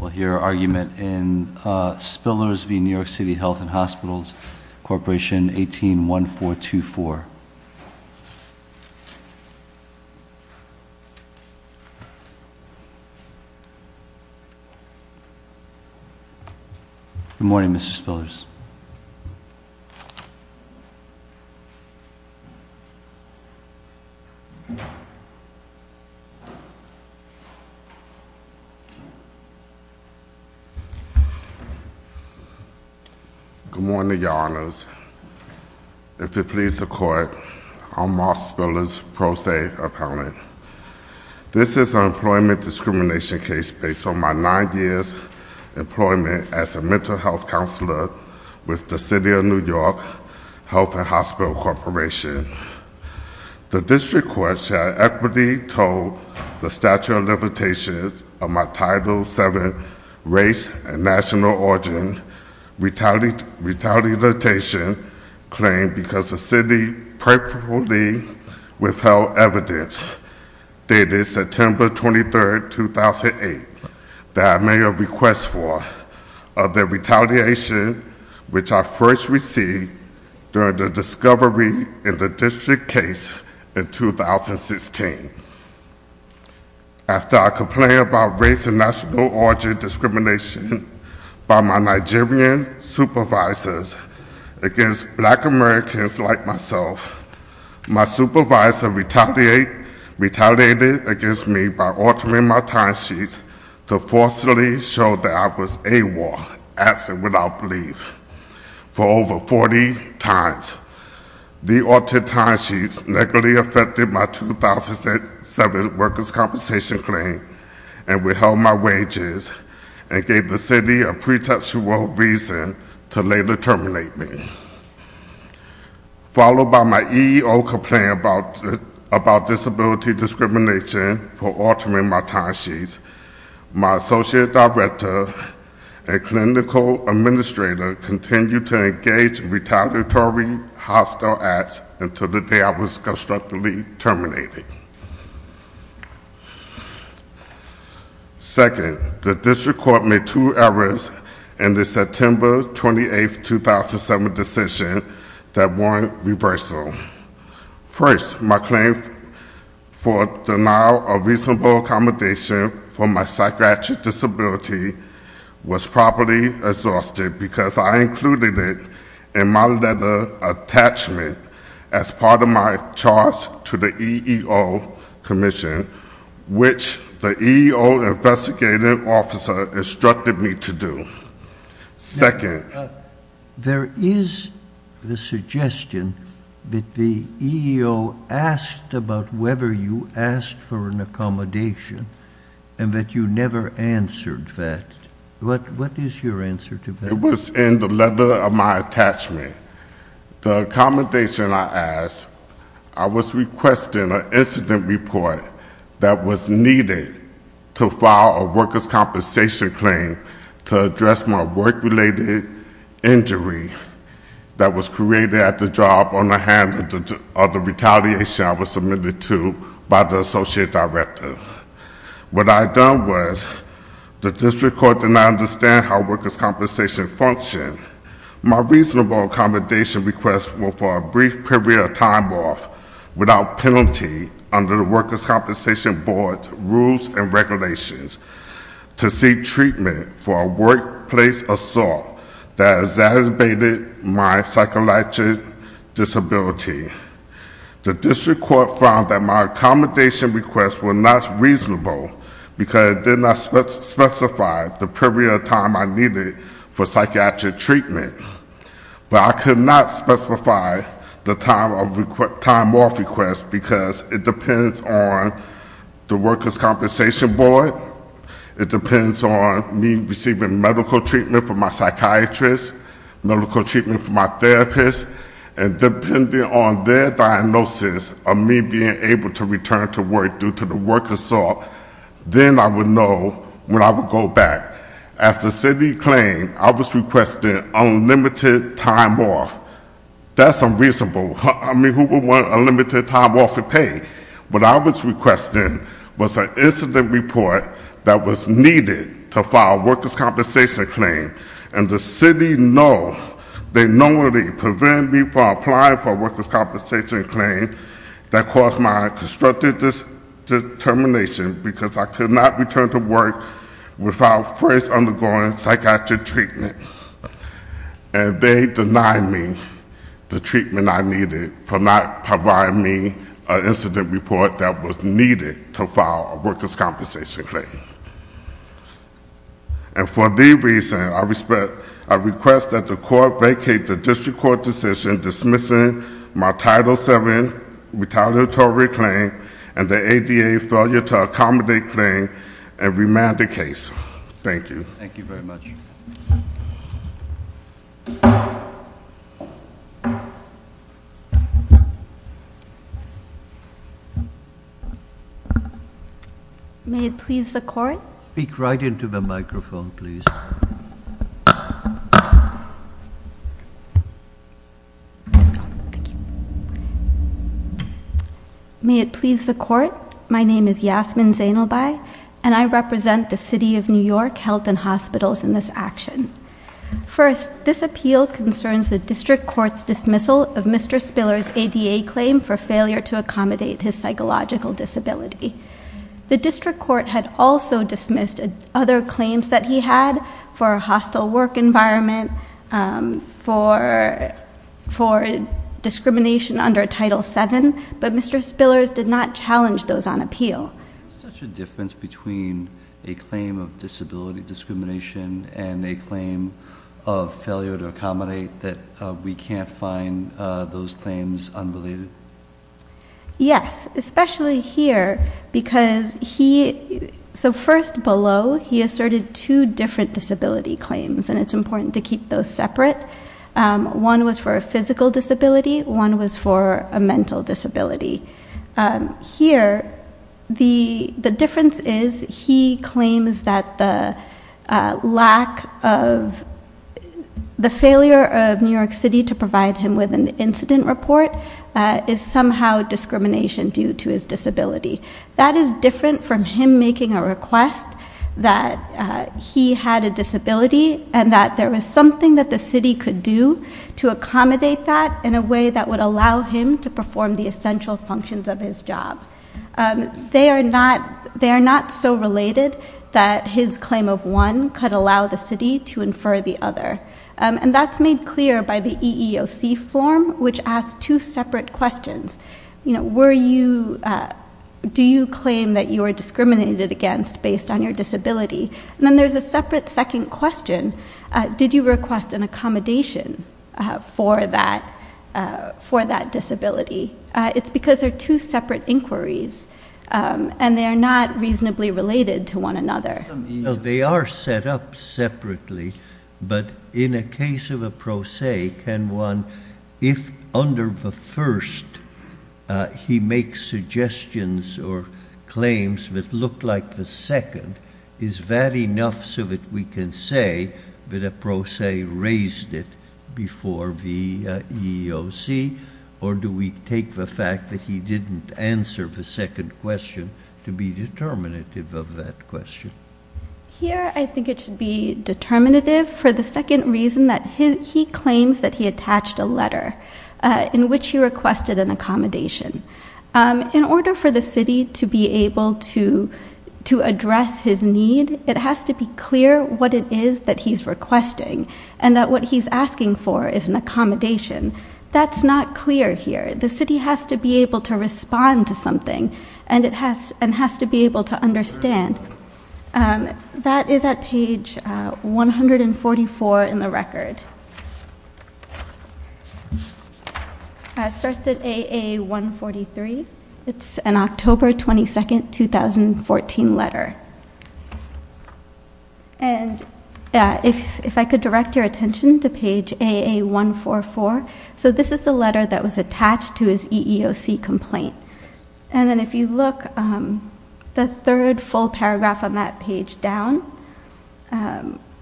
We'll hear argument in Spillers v. New York City Health and Hospitals. Corporation 181424. Good morning, Mr. Spillers. Good morning, Your Honors. If it pleases the court, I'm Mark Spillers, Pro Se Appellant. This is an employment discrimination case based on my nine years employment as a mental health counselor with the City of New York Health and Hospital Corporation. The district court shall equitably told the statute of limitations of my Title VII race and national origin, retaliation claim because the city purposefully withheld evidence dated September 23, 2008 that I may have request for of the retaliation which I first received during the discovery in the district case in 2016. After I complained about race and national origin discrimination by my Nigerian supervisors against black Americans like myself, my supervisor retaliated against me by altering my timesheets to falsely show that I was AWOL, absent without belief, for over 40 times. The altered timesheets negatively affected my 2007 workers' compensation claim and withheld my wages and gave the city a pretextual reason to later terminate me. Followed by my EEO complaint about disability discrimination for altering my timesheets, my associate director and clinical administrator continued to engage in retaliatory hostile acts until the day I was constructively terminated. Second, the district court made two errors in the September 28, 2007 decision that warranted reversal. First, my claim for denial of reasonable accommodation for my psychiatric disability was properly exhausted because I included it in my letter attachment as part of my charge to the EEO commission, which the EEO investigative officer instructed me to do. Second, there is the suggestion that the EEO asked about whether you asked for an accommodation and that you never answered that. What is your answer to that? It was in the letter of my attachment. The accommodation I asked, I was requesting an incident report that was needed to file a workers' compensation claim to address my work-related injury that was created at the job on the hand of the retaliation I was submitted to by the associate director. What I had done was, the district court did not understand how workers' compensation functioned. My reasonable accommodation request was for a brief period of time off without penalty under the workers' compensation board's rules and regulations to seek treatment for a workplace assault that exacerbated my psychologic disability. The district court found that my accommodation requests were not reasonable because it did not specify the period of time I needed for psychiatric treatment. But I could not specify the time off request because it depends on the workers' compensation board, it depends on me receiving medical treatment from my psychiatrist, medical treatment from my therapist, and depending on their diagnosis of me being able to return to work due to the work assault, then I would know when I would go back. As the city claimed, I was requesting unlimited time off. That's unreasonable. I mean, who would want unlimited time off for pain? What I was requesting was an incident report that was needed to file a workers' compensation claim. And the city know, they knowingly prevented me from applying for a workers' compensation claim that caused my constructive determination because I could not return to work without first undergoing psychiatric treatment. And they denied me the treatment I needed for not providing me an incident report that was needed to file a workers' compensation claim. And for these reasons, I request that the court vacate the district court decision dismissing my Title VII retaliatory claim and the ADA failure to accommodate claim and remand the case. Thank you. Thank you very much. Thank you. May it please the court? Speak right into the microphone, please. Thank you. May it please the court? My name is Yasmin Zainelbai, and I represent the city of New York Health and Hospitals in this action. First, this appeal concerns the district court's dismissal of Mr. Spiller's ADA claim for failure to accommodate his psychological disability. The district court had also dismissed other claims that he had for a hostile work environment, for discrimination under Title VII, but Mr. Spiller's did not challenge those on appeal. Is there such a difference between a claim of disability discrimination and a claim of failure to accommodate that we can't find those claims unrelated? Yes, especially here because he, so first below, he asserted two different disability claims, and it's important to keep those separate. One was for a physical disability, one was for a mental disability. Here, the difference is he claims that the lack of, the failure of New York City to provide him with an incident report is somehow discrimination due to his disability. That is different from him making a request that he had a disability and that there was something that the city could do to accommodate that in a way that would allow him to perform the essential functions of his job. They are not so related that his claim of one could allow the city to infer the other. And that's made clear by the EEOC form, which asks two separate questions. Were you, do you claim that you are discriminated against based on your disability? And then there's a separate second question. Did you request an accommodation for that disability? It's because they're two separate inquiries, and they are not reasonably related to one another. They are set up separately, but in a case of a pro se, can one, if under the first, he makes suggestions or claims that look like the second, is that enough so that we can say that a pro se raised it before the EEOC, or do we take the fact that he didn't answer the second question to be determinative of that question? Here, I think it should be determinative for the second reason that he claims that he attached a letter in which he requested an accommodation. In order for the city to be able to address his need, it has to be clear what it is that he's requesting, and that what he's asking for is an accommodation. That's not clear here. The city has to be able to respond to something, and it has to be able to understand. That is at page 144 in the record. It starts at AA143. It's an October 22, 2014 letter. If I could direct your attention to page AA144. This is the letter that was attached to his EEOC complaint. If you look the third full paragraph on that page down,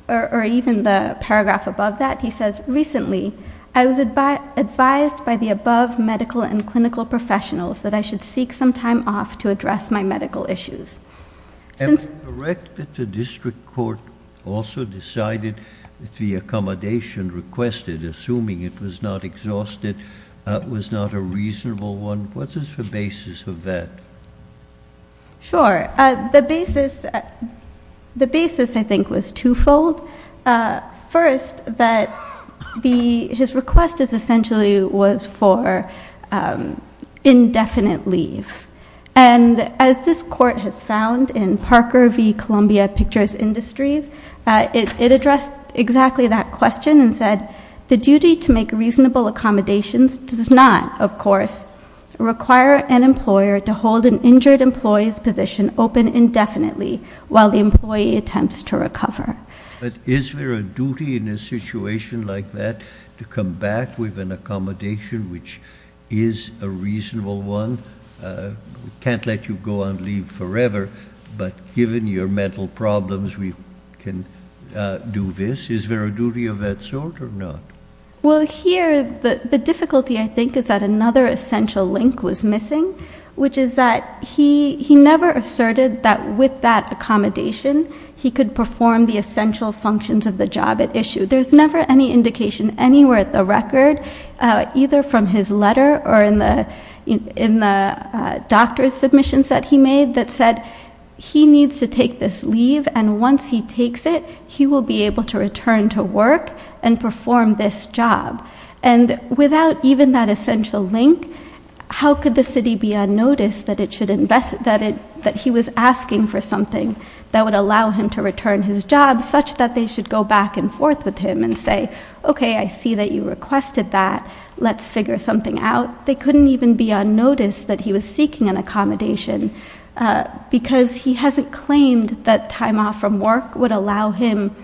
or even the paragraph above that, he says, recently, I was advised by the above medical and clinical professionals that I should seek some time off to address my medical issues. Am I correct that the district court also decided that the accommodation requested, assuming it was not exhausted, was not a reasonable one? What is the basis of that? Sure. The basis, I think, was twofold. First, that his request essentially was for indefinite leave. As this court has found in Parker v. Columbia Pictures Industries, it addressed exactly that question and said, the duty to make reasonable accommodations does not, of course, require an employer to hold an injured employee's position open indefinitely while the employee attempts to recover. Is there a duty in a situation like that to come back with an accommodation which is a reasonable one? We can't let you go on leave forever, but given your mental problems, we can do this. Is there a duty of that sort or not? Well, here, the difficulty, I think, is that another essential link was missing, which is that he never asserted that with that accommodation, he could perform the essential functions of the job at issue. There's never any indication anywhere at the record, either from his letter or in the doctor's submissions that he made, that said he needs to take this leave and once he takes it, he will be able to return to work and perform this job. Without even that essential link, how could the city be on notice that he was asking for something that would allow him to return his job such that they should go back and forth with him and say, OK, I see that you requested that. Let's figure something out. They couldn't even be on notice that he was seeking an accommodation because he hasn't claimed that time off from work would allow him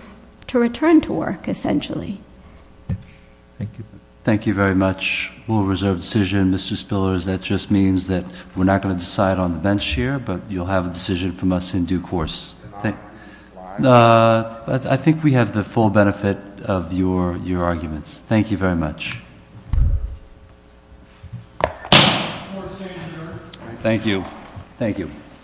to return to work, essentially. Thank you very much. Rule of reserve decision, Mr. Spillers. That just means that we're not going to decide on the bench here, but you'll have a decision from us in due course. I think we have the full benefit of your arguments. Thank you very much. Thank you.